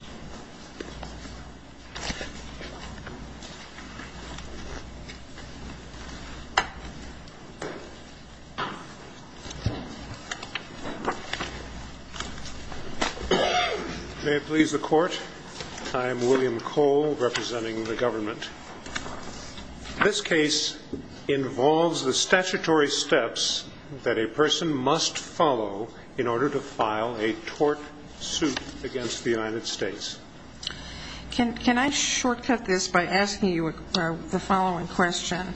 May it please the Court, I am William Cole representing the government. This case involves the statutory steps that a person must follow in order to file a tort suit against the United States. Can I shortcut this by asking you the following question?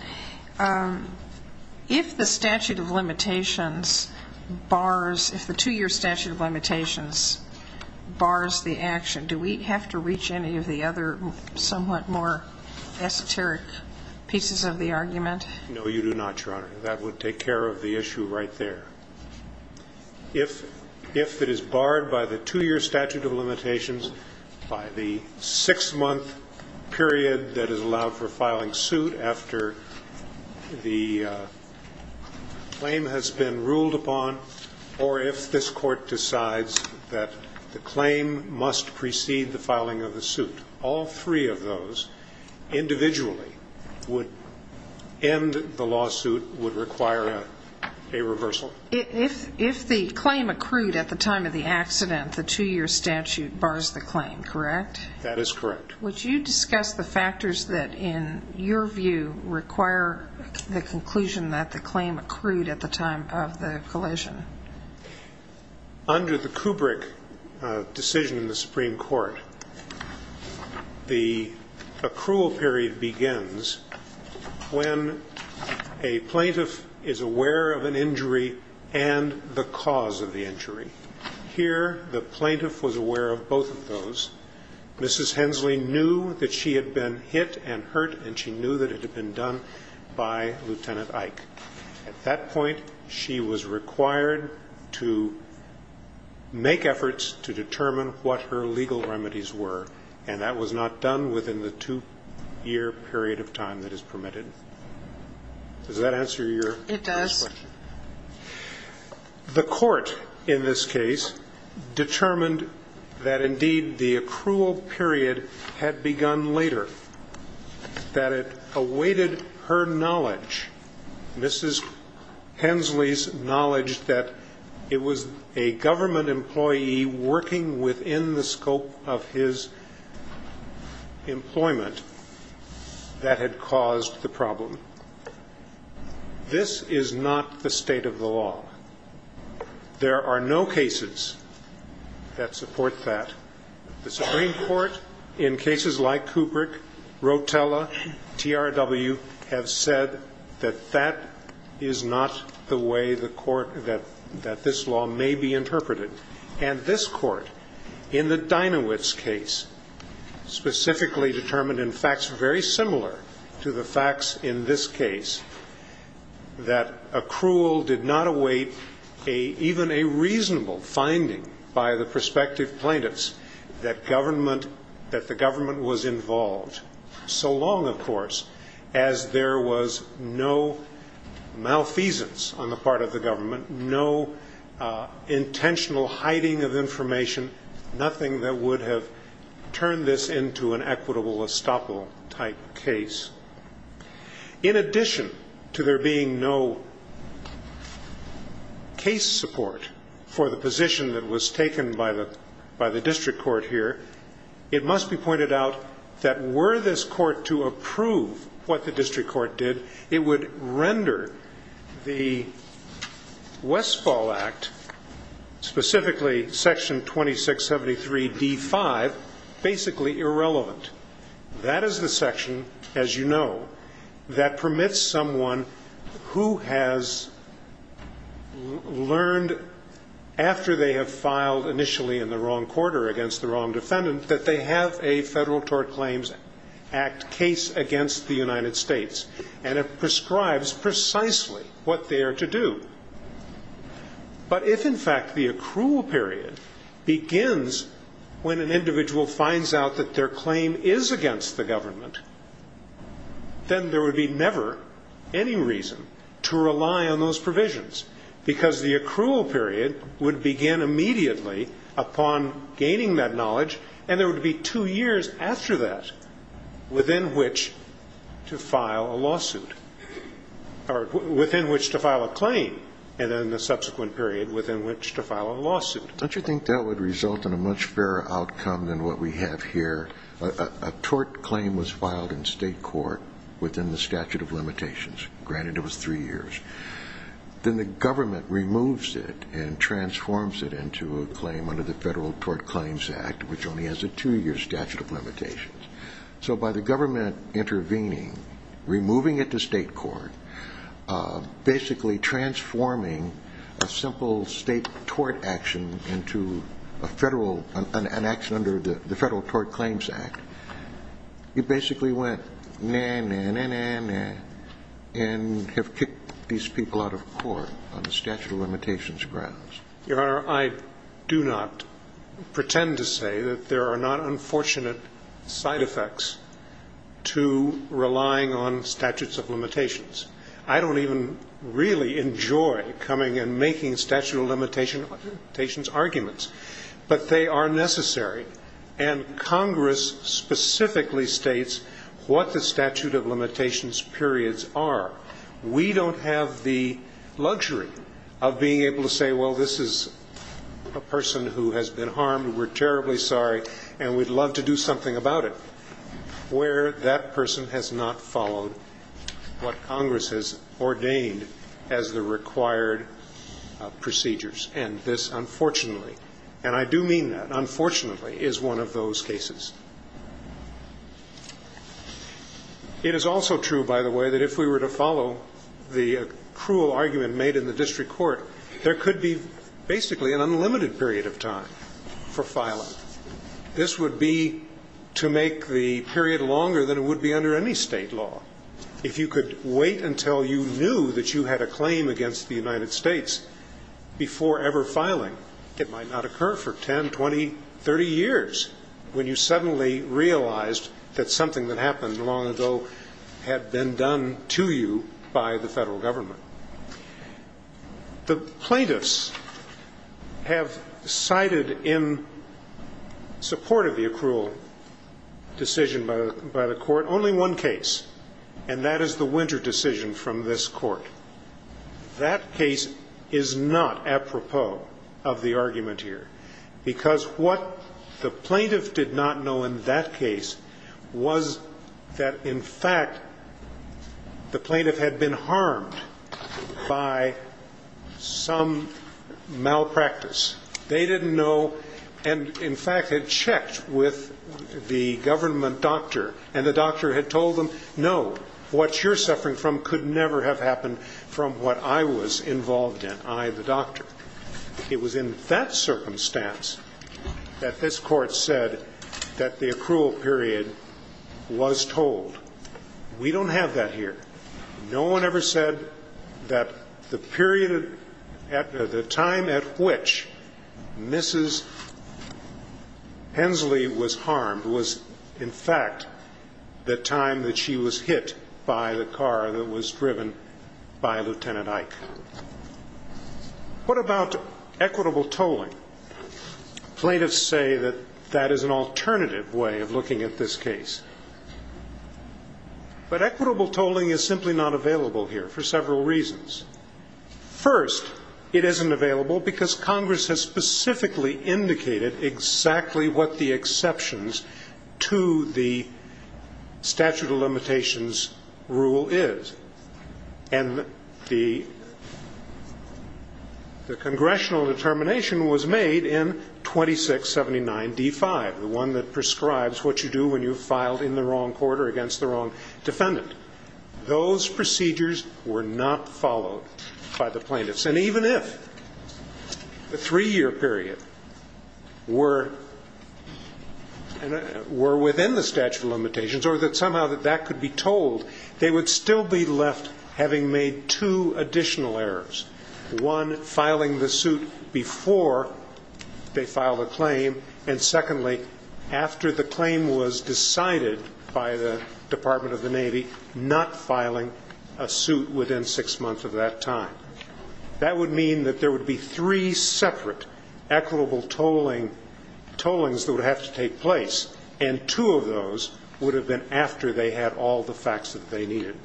If the statute of limitations bars, if the two-year statute of limitations bars the action, do we have to reach any of the other somewhat more esoteric pieces of the argument? No, you do not, Your Honor. That would take care of the issue right there. If it is barred by the two-year statute of limitations, by the six-month period that is allowed for filing suit after the claim has been ruled upon, or if this Court decides that the claim must precede the filing of the suit, all three of those individually would end the lawsuit, would require a reversal? If the claim accrued at the time of the accident, the two-year statute bars the claim, correct? That is correct. Would you discuss the factors that in your view require the conclusion that the claim accrued at the time of the collision? Under the Kubrick decision in the Supreme Court, the accrual period begins when a plaintiff is aware of an injury and the cause of the injury. Here, the plaintiff was aware of both of those. Mrs. Hensley knew that she had been hit and hurt, and she knew that it had been done by Lieutenant Ike. At that point, she was required to make efforts to determine what her legal remedies were, and that was not done within the two-year period of time that is permitted. Does that answer your first question? It does. The Court in this case determined that indeed the accrual period had begun later, that it awaited her knowledge, Mrs. Hensley's knowledge, that it was a government employee working within the scope of his employment that had caused the problem. This is not the state of the law. There are no cases that support that. The Supreme Court, in cases like Kubrick, Rotella, TRW, have said that that is not the way the court that this law may be interpreted. And this Court, in the Dinowitz case, specifically determined in facts very similar to the facts in this case, that accrual did not await even a reasonable finding by the prospective plaintiffs that the government was involved, so long, of course, as there was no malfeasance on the part of the government, no intentional hiding of information, nothing that would have turned this into an equitable estoppel type case. In addition to there being no case support for the position that was taken by the district court here, it must be pointed out that were this court to approve what the district court did, it would render the Westfall Act, specifically Section 2673 D5, basically irrelevant. That is the section, as you know, that permits someone who has learned after they have filed initially in the wrong quarter against the wrong defendant that they have a Federal Tort Claims Act case against the United States. And it prescribes precisely what they are to do. But if, in fact, the accrual period begins when an individual finds out that their claim is against the government, then there would be never any reason to rely on those provisions, because the accrual period would begin immediately upon gaining that knowledge, and there would be two years after that within which to file a lawsuit, or within which to file a claim, and then the subsequent period within which to file a lawsuit. Don't you think that would result in a much fairer outcome than what we have here? A tort claim was filed in state court within the statute of limitations. Granted, it was three years. Then the government removes it and transforms it into a claim under the Federal Tort Claims Act, which only has a two-year statute of limitations. So by the government intervening, removing it to state court, basically transforming a simple state tort action into a federal, an action under the Federal Tort Claims Act, it basically went, na, na, na, na, na, and have kicked these people out of court on the statute of limitations grounds. Your Honor, I do not pretend to say that there are not unfortunate side effects to relying on statutes of limitations. I don't even really enjoy coming and making statute of limitations arguments. But they are necessary, and Congress specifically states what the statute of limitations periods are. We don't have the luxury of being able to say, well, this is a person who has been harmed, we're terribly sorry, and we'd love to do something about it, where that person has not followed what Congress has ordained as the required procedures. And this, unfortunately, and I do mean that, unfortunately, is one of those cases. It is also true, by the way, that if we were to follow the cruel argument made in the district court, there could be basically an unlimited period of time for filing. This would be to make the period longer than it would be under any state law. If you could wait until you knew that you had a claim against the United States before ever filing, it might not occur for 10, 20, 30 years when you suddenly realized that something that happened long ago had been done to you by the federal government. The plaintiffs have cited in support of the accrual decision by the court only one case, and that is the Winter decision from this court. That case is not apropos of the argument here, because what the plaintiff did not know in that case was that, in fact, the plaintiff had been harmed by some malpractice. They didn't know, and, in fact, had checked with the government doctor, and the doctor had told them, no, what you're suffering from could never have happened from what I was involved in, I, the doctor. It was in that circumstance that this court said that the accrual period was told. We don't have that here. No one ever said that the period at the time at which Mrs. Hensley was harmed was, in fact, the time that she was hit by the car that was driven by Lieutenant Ike. What about equitable tolling? Plaintiffs say that that is an alternative way of looking at this case, but equitable tolling is simply not available here for several reasons. First, it isn't available because Congress has specifically indicated exactly what the exceptions to the statute of limitations rule is, and the congressional determination was made in 2679D5, the one that prescribes what you do when you've filed in the wrong note by the plaintiffs. And even if the three-year period were within the statute of limitations or that somehow that could be told, they would still be left having made two additional errors, one filing the suit before they filed a claim, and, secondly, after the claim was decided by the Department of the Navy, not filing a suit within six months of that time. That would mean that there would be three separate equitable tollings that would have to take place, and two of those would have been after they had all the facts that they needed.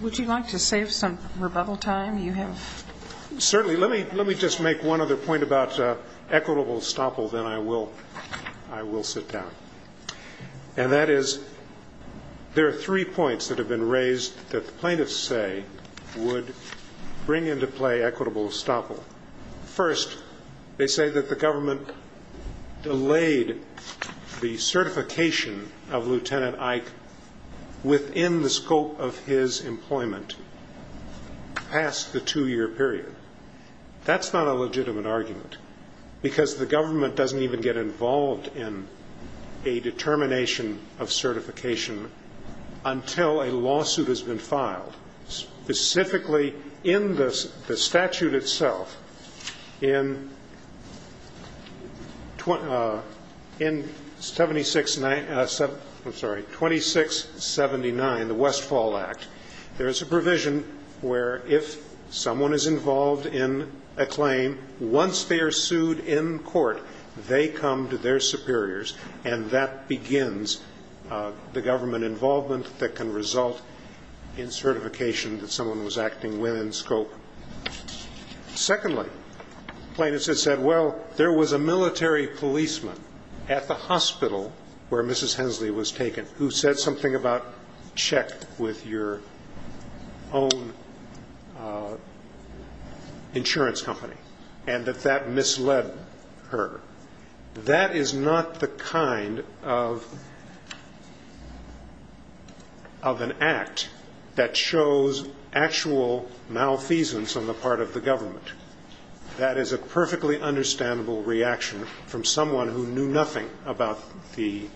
Would you like to save some rebuttal time? You have to. Certainly. Let me just make one other point about equitable estoppel, then I will sit down. And that is there are three points that have been raised that the plaintiffs say would bring into play equitable estoppel. First, they say that the government delayed the certification of Lieutenant Ike within the scope of his employment past the two-year period. That's not a legitimate argument, because the government doesn't even get involved in a determination of certification until a lawsuit has been filed, specifically in the statute itself in 2679, the Westfall Act. There is a provision where if someone is involved in a claim, once they are sued in court, they come to their superiors, and that begins the government involvement that can result in certification that someone was acting within scope. Plaintiffs have said, well, there was a military policeman at the hospital where Mrs. Hensley was taken who said something about check with your own insurance company, and that that misled her. That is not the kind of an act that shows actual malfeasance on the part of the government. That is a perfectly understandable reaction from someone who knew nothing about the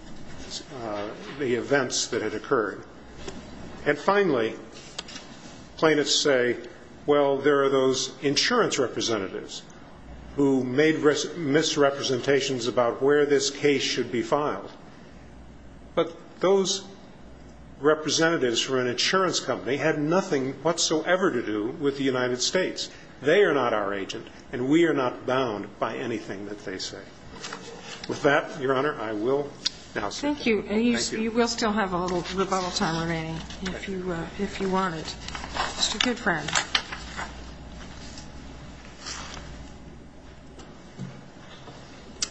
events that had occurred. And finally, plaintiffs say, well, there are those insurance representatives who made misrepresentations about where this case should be filed. But those representatives for an insurance company had nothing whatsoever to do with the United States. They are not our agent, and we are not bound by anything that they say. With that, Your Honor, I will now say good-bye. Thank you. And you will still have a little rebuttal time remaining if you want it. Mr. Goodfriend.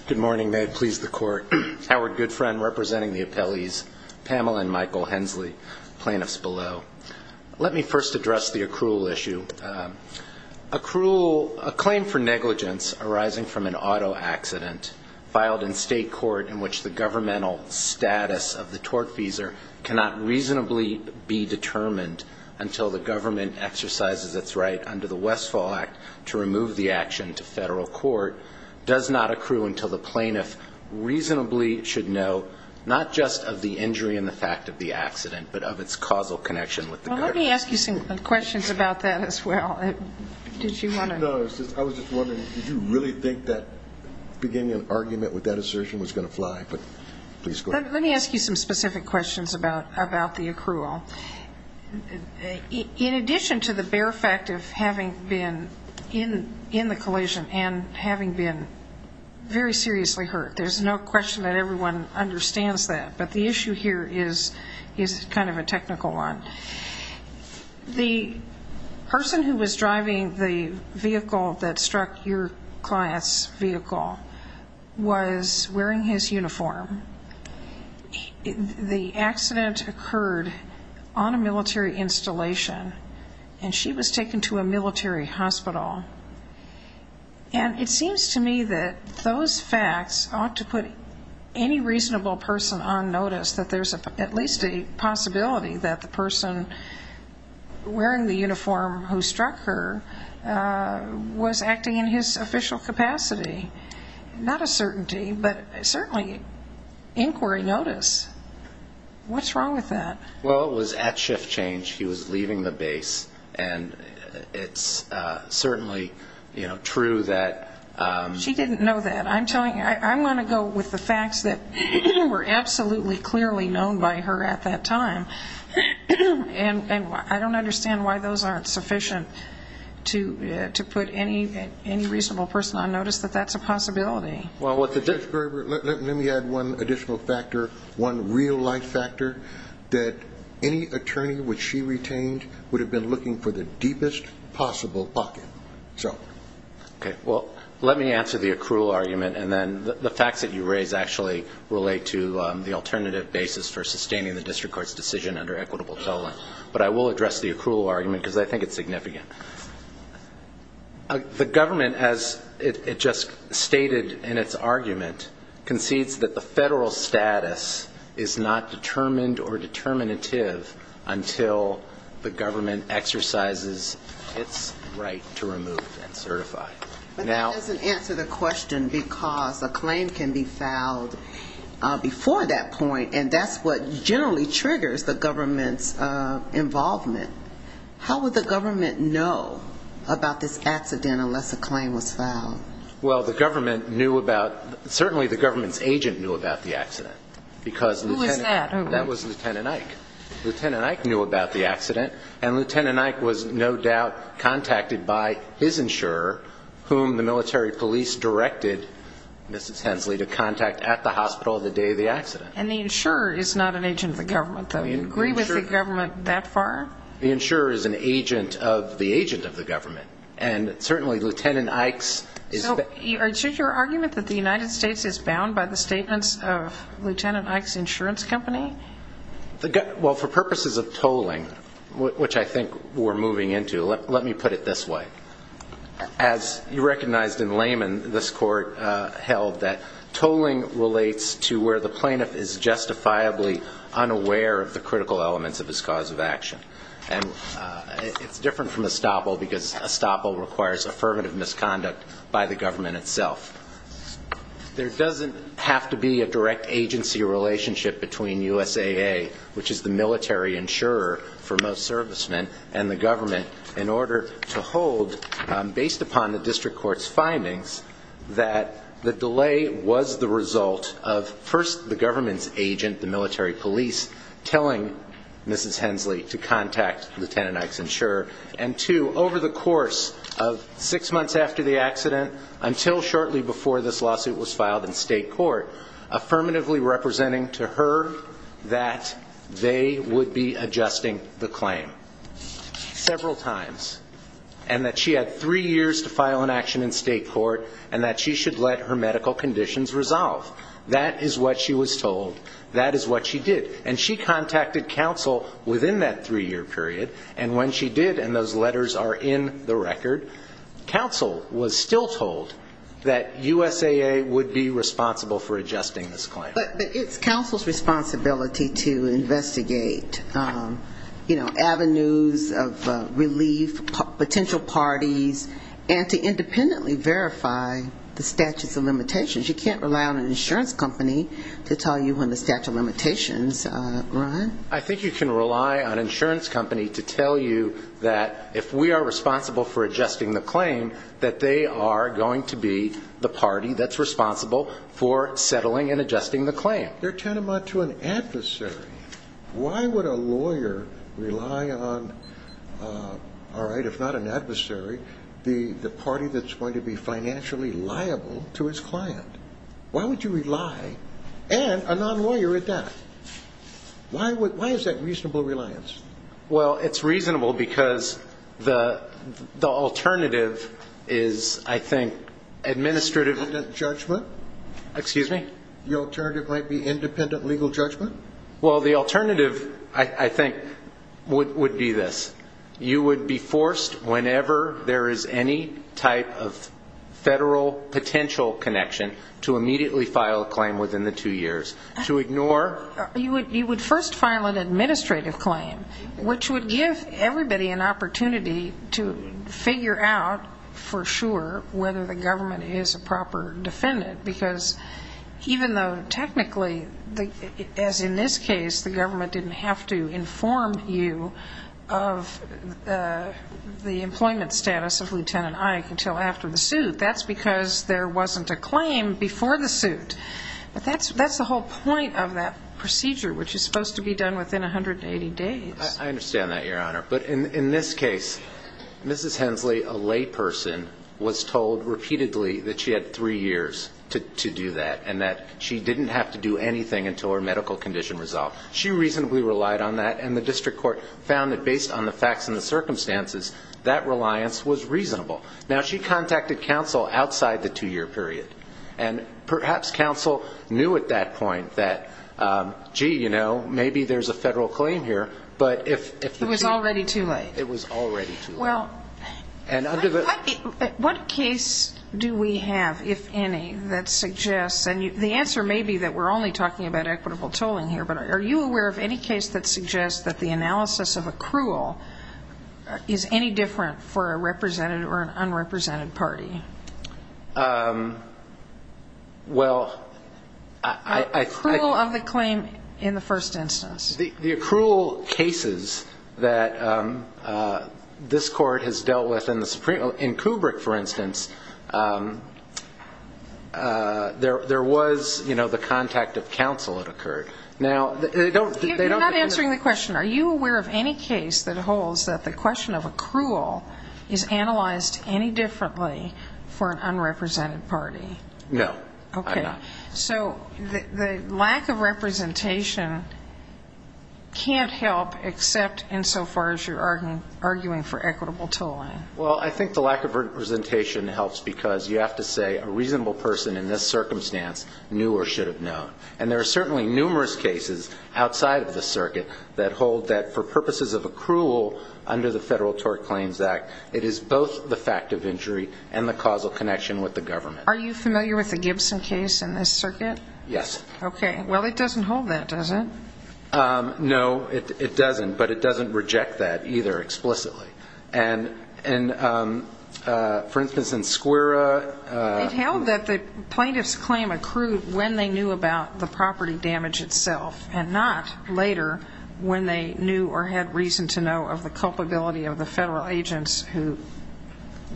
Good morning. May it please the Court. Howard Goodfriend, representing the appellees Pamela and Michael Hensley, plaintiffs below. Let me first address the accrual issue. Accrual a claim for negligence arising from an auto accident filed in state court in which the governmental status of the tortfeasor cannot reasonably be determined until the government exercises its right under the Westfall Act to remove the action to federal court does not accrue until the plaintiff reasonably should know, not just of the injury and the fact of the accident, but of its causal connection with the government. Well, let me ask you some questions about that as well. Did you want to? No, I was just wondering, did you really think that beginning an argument with that assertion was going to fly? But please go ahead. Let me ask you some specific questions about the accrual. In addition to the bare fact of having been in the collision and having been very seriously hurt, there's no question that everyone understands that, but the issue here is kind of a technical one. The person who was driving the vehicle that struck your client's vehicle was wearing his uniform. The accident occurred on a military installation, and she was taken to a military hospital. And it seems to me that those facts ought to put any reasonable person on notice that there's at least a possibility that the person wearing the uniform who struck her was acting in his official capacity. Not a certainty, but certainly inquiry notice. What's wrong with that? Well, it was at shift change. He was leaving the base, and it's certainly true that... She didn't know that. I'm telling you, I want to go with the facts that were absolutely clearly known by her at that time. And I don't understand why those aren't sufficient to put any reasonable person on notice that that's a possibility. Judge Gerber, let me add one additional factor, one real life factor, that any attorney which she retained would have been looking for the deepest possible pocket. Okay. Well, let me answer the accrual argument, and then the facts that you raise actually relate to the alternative basis for sustaining the district court's decision under equitable settlement. But I will address the accrual argument, because I think it's significant. The government, as it just stated in its argument, concedes that the federal status is not determined or determinative until the government exercises its right to remove and certify. But that doesn't answer the question, because a claim can be filed before that point, and that's what generally triggers the government's involvement. How would the government know about this accident unless a claim was filed? Well, the government knew about... Certainly the government's agent knew about the accident, because Lieutenant Ike knew about the accident, and Lieutenant Ike was no doubt contacted by his insurer, whom the military police directed Mrs. Hensley to contact at the hospital the day of the accident. And the insurer is not an agent of the government, though. You agree with the government that far? The insurer is an agent of the agent of the government, and certainly Lieutenant Ike's is... So is your argument that the United States is bound by the statements of Lieutenant Ike's insurance company? Well, for purposes of tolling, which I think we're moving into, let me put it this way. As you recognized in Lehman, this Court held that tolling relates to where the plaintiff is justifiably unaware of the critical elements of his cause of action. And it's different from estoppel, because estoppel requires affirmative misconduct by the government itself. There doesn't have to be a direct agency relationship between USAA, which is the military insurer for most servicemen, and the government in order to hold, based upon the district court's findings, that the delay was the result of, first, the government's agent, the military police, telling Mrs. Hensley to contact Lieutenant Ike's insurer. And two, over the course of six months after the accident, until shortly before this lawsuit was filed in state court, affirmatively representing to her that they would be adjusting the claim several times, and that she had three years to file an action in state court, and that she should let her medical conditions resolve. That is what she was told. That is what she did. And she contacted counsel within that three-year period. And when she did, and those letters are in the case, she was told that they would be adjusting this claim. But it's counsel's responsibility to investigate, you know, avenues of relief, potential parties, and to independently verify the statutes of limitations. You can't rely on an insurance company to tell you when the statute of limitations run. I think you can rely on an insurance company to tell you that if we are responsible for settling and adjusting the claim. They're tantamount to an adversary. Why would a lawyer rely on, all right, if not an adversary, the party that's going to be financially liable to his client? Why would you rely, and a non-lawyer at that? Why is that reasonable reliance? Well, it's reasonable because the alternative is, I think, administrative judgment, excuse me? The alternative might be independent legal judgment? Well, the alternative, I think, would be this. You would be forced, whenever there is any type of federal potential connection, to immediately file a claim within the two years. To ignore You would first file an administrative claim, which would give everybody an opportunity to figure out for sure whether the government is a proper defendant. Because even though technically, as in this case, the government didn't have to inform you of the employment status of Lieutenant Ike until after the suit. That's because there wasn't a claim before the suit. But that's the whole point of that procedure, which is supposed to be done within 180 days. I understand that, Your Honor. But in this case, Mrs. Hensley, a layperson, was told repeatedly that she had three years to do that, and that she didn't have to do anything until her medical condition resolved. She reasonably relied on that, and the district court found that based on the facts and the circumstances, that reliance was reasonable. Now she contacted counsel outside the two-year period, and perhaps counsel knew at that point that, gee, you know, maybe there's a federal claim here. It was already too late. It was already too late. What case do we have, if any, that suggests, and the answer may be that we're only talking about equitable tolling here, but are you aware of any case that suggests that the analysis of accrual is any different for a represented or an unrepresented party? Well, I think Accrual of the claim in the first instance. The accrual cases that this court has dealt with in Kubrick, for instance, there was, you know, the contact of counsel that occurred. Now, they don't You're not answering the question. Are you aware of any case that holds that the question of accrual is analyzed any differently for an unrepresented party? No, I'm not. Okay. So the lack of representation can't help except insofar as you're arguing for equitable tolling. Well, I think the lack of representation helps because you have to say a reasonable person in this circumstance knew or should have known. And there are certainly numerous cases outside of the circuit that hold that for purposes of accrual under the Federal Tort Claims Act, it is both the fact of injury and the causal connection with the government. Are you familiar with the Gibson case in this circuit? Yes. Okay. Well, it doesn't hold that, does it? No, it doesn't, but it doesn't reject that either explicitly. And, for instance, in Skwera It held that the plaintiff's claim accrued when they knew about the property damage itself and not later when they knew or had reason to know of the culpability of the federal agents who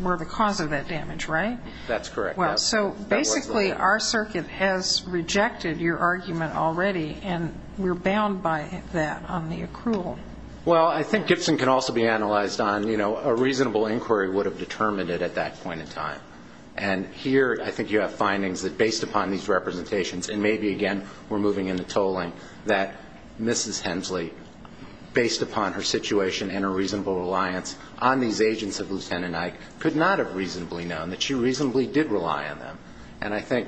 were the cause of that damage, right? That's correct. So basically our circuit has rejected your argument already, and we're bound by that on the accrual. Well, I think Gibson can also be analyzed on, you know, a reasonable inquiry would have determined it at that point in time. And here I think you have findings that, based upon these representations, and maybe, again, we're moving into tolling, that Mrs. Hensley, based upon her situation and her reasonable reliance on these agents of Lieutenant Ike, could not have reasonably known that she reasonably did rely on them. And I think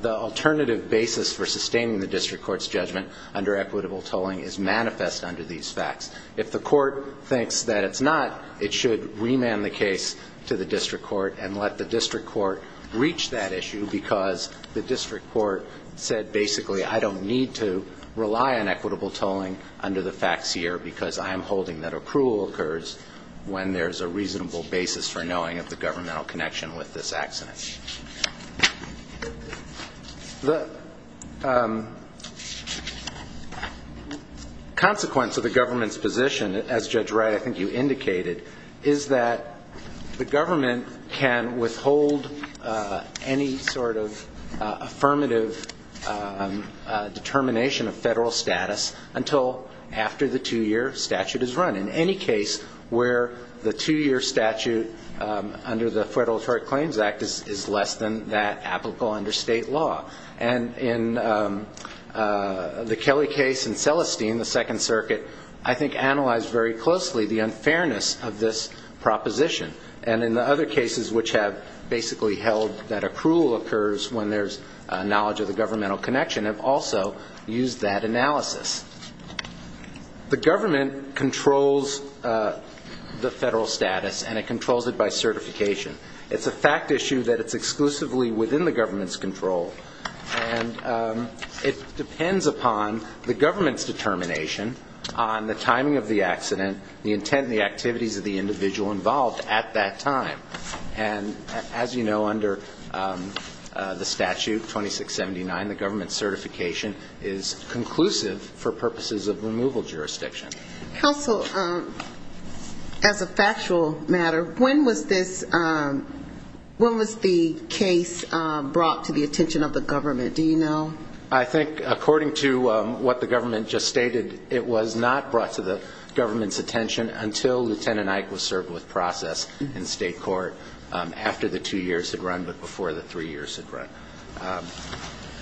the alternative basis for sustaining the district court's judgment under equitable tolling is manifest under these facts. If the court thinks that it's not, it should remand the case to the district court and let the district court reach that issue because the district court said, basically, I don't need to rely on equitable tolling under the facts here because I am holding that accrual occurs when there's a reasonable basis for knowing of the governmental connection with this accident. The consequence of the government's position, as Judge Wright, I think you indicated, is that the government can withhold any sort of affirmative determination of federal status until after the two-year statute is run, in any case where the two-year statute under the Federal Attorney Claims Act is less than that applicable under state law. And in the Kelly case and Celestine, the Second Circuit, I think analyzed very closely the unfairness of this proposition. And in the other cases which have basically held that accrual occurs when there's knowledge of the governmental connection have also used that analysis. The government controls the federal status, and it controls it by certification. It's a fact issue that it's exclusively within the government's control, and it depends upon the government's determination on the timing of the accident, the intent and the activities of the individual involved at that time. And as you know, under the statute 2679, the government certification is conclusive for purposes of removal jurisdiction. Counsel, as a factual matter, when was the case brought to the attention of the government? Do you know? I think according to what the government just stated, it was not brought to the government's attention until Lieutenant Ike was served with process in state court after the two years had run but before the three years had run.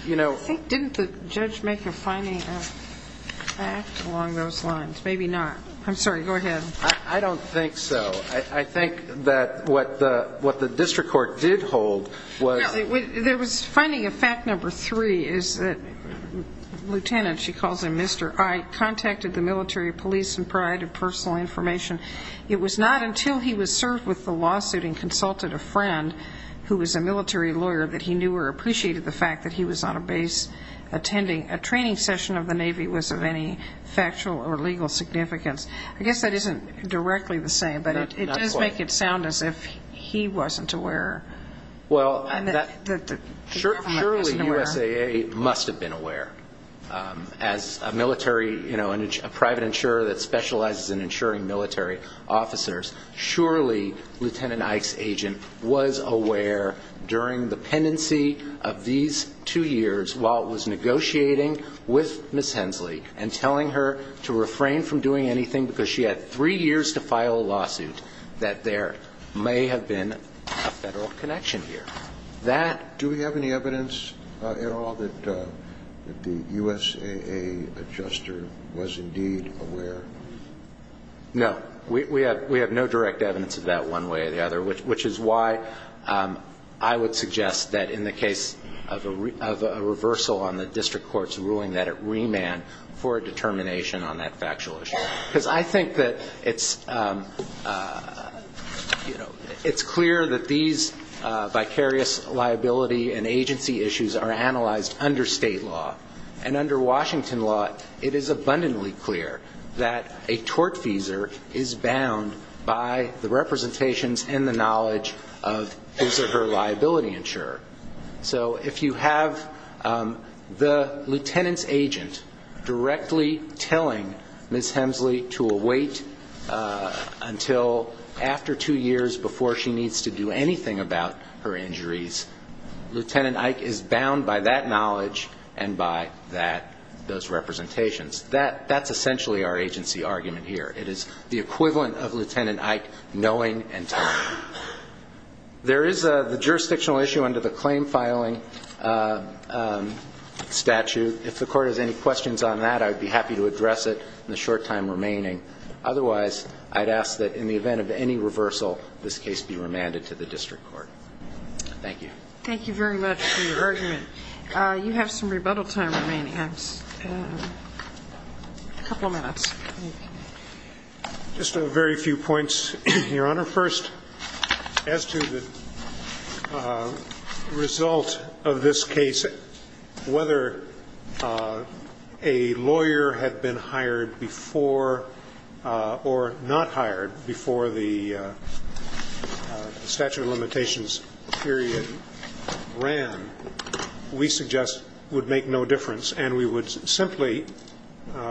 Didn't the judge make a finding of fact along those lines? Maybe not. I'm sorry. Go ahead. I don't think so. I think that what the district court did hold was No, there was finding of fact number three is that Lieutenant, she calls him Mr. Ike, contacted the military police and provided personal information. It was not until he was served with the lawsuit and consulted a friend who was a military lawyer that he knew or appreciated the fact that he was on a base attending a training session of the Navy was of any factual or legal significance. I guess that isn't directly the same, but it does make it sound as if he wasn't aware. Well, surely USAA must have been aware. As a private insurer that specializes in insuring military officers, surely Lieutenant Ike's agent was aware during the pendency of these two years while it was negotiating with Ms. Hensley and telling her to refrain from doing anything because she had three years to file a lawsuit that there may have been a federal connection here. Do we have any evidence at all that the USAA adjuster was indeed aware? No. We have no direct evidence of that one way or the other, which is why I would suggest that in the case of a reversal on the district court's ruling that it remand for a determination on that factual issue. Because I think that it's clear that these vicarious liability and agency issues are analyzed under state law. And under Washington law, it is abundantly clear that a tortfeasor is bound by the representations and the knowledge of his or her liability insurer. So if you have the lieutenant's agent directly telling Ms. Hensley to wait until after two years before she needs to do anything about her injuries, Lieutenant Ike is bound by that knowledge and by those representations. That's essentially our agency argument here. It is the equivalent of Lieutenant Ike knowing and telling. There is the jurisdictional issue under the claim filing statute. If the court has any questions on that, I would be happy to address it in the short time remaining. Otherwise, I'd ask that in the event of any reversal, this case be remanded to the district court. Thank you. Thank you very much for your argument. You have some rebuttal time remaining. A couple of minutes. Thank you. Just a very few points, Your Honor. Your Honor, first, as to the result of this case, whether a lawyer had been hired before or not hired before the statute of limitations period ran, we suggest would make no difference. And we would simply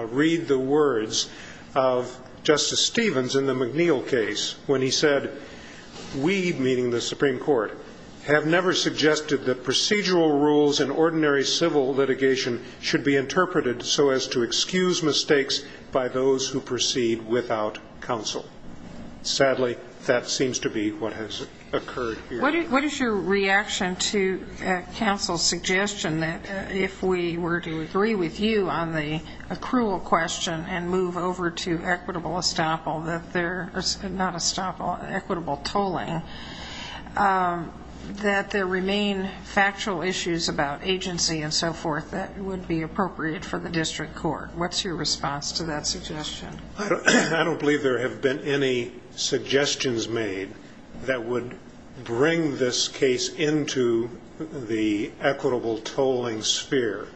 read the words of Justice Stevens in the McNeil case when he said, we, meaning the Supreme Court, have never suggested that procedural rules in ordinary civil litigation should be interpreted so as to excuse mistakes by those who proceed without counsel. Sadly, that seems to be what has occurred here. What is your reaction to counsel's suggestion that if we were to agree with you on the accrual question and move over to equitable tolling, that there remain factual issues about agency and so forth that would be appropriate for the district court? I don't believe there have been any suggestions made that would bring this case into the equitable tolling sphere.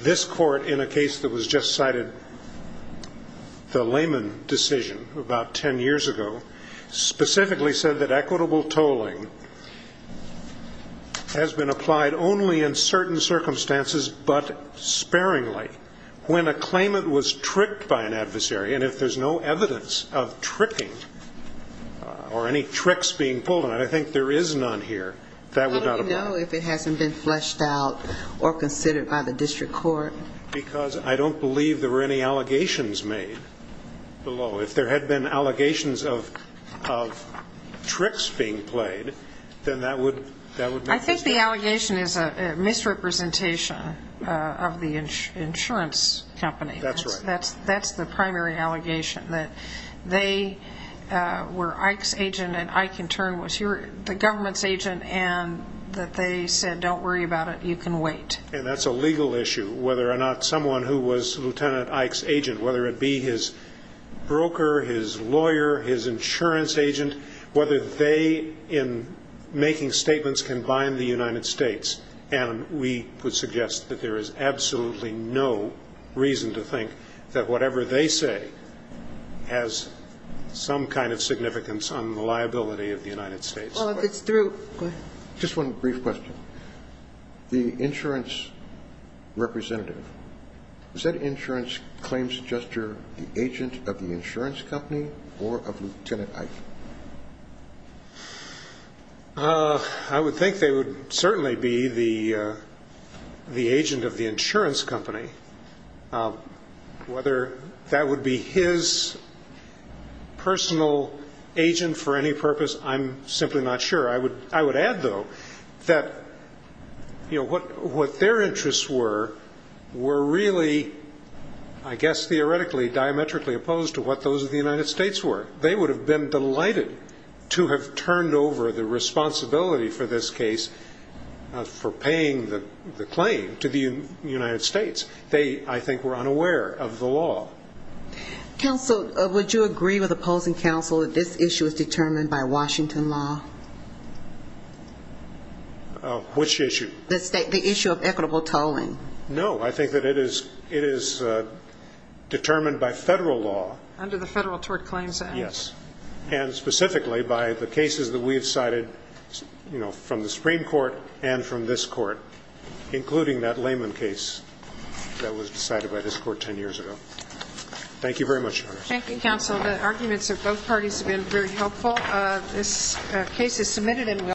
This court, in a case that was just cited, the Lehman decision about ten years ago, specifically said that equitable tolling has been applied only in certain circumstances but sparingly. When a claimant was tricked by an adversary, and if there's no evidence of tricking or any tricks being pulled on it, I think there is none here, that would not apply. How do you know if it hasn't been fleshed out or considered by the district court? Because I don't believe there were any allegations made below. If there had been allegations of tricks being played, then that would make no difference. I think the allegation is a misrepresentation of the insurance company. That's right. That's the primary allegation, that they were Ike's agent and Ike in turn was the government's agent and that they said, don't worry about it, you can wait. And that's a legal issue, whether or not someone who was Lieutenant Ike's agent, whether it be his broker, his lawyer, his insurance agent, whether they in making statements can bind the United States. And we would suggest that there is absolutely no reason to think that whatever they say has some kind of significance on the liability of the United States. Well, if it's through, go ahead. Just one brief question. The insurance representative, is that insurance claims adjuster the agent of the insurance company or of Lieutenant Ike? I would think they would certainly be the agent of the insurance company. Whether that would be his personal agent for any purpose, I'm simply not sure. I would add, though, that what their interests were, were really, I guess theoretically, diametrically opposed to what those of the United States were. They would have been delighted to have turned over the responsibility for this case for paying the claim to the United States. They, I think, were unaware of the law. Counsel, would you agree with opposing counsel that this issue is determined by Washington law? Which issue? The issue of equitable tolling. No, I think that it is determined by federal law. Under the Federal Tort Claims Act. Yes. And specifically by the cases that we have cited from the Supreme Court and from this court, including that layman case that was decided by this court 10 years ago. Thank you very much, Your Honor. Thank you, counsel. The arguments of both parties have been very helpful. This case is submitted and will be reviewed.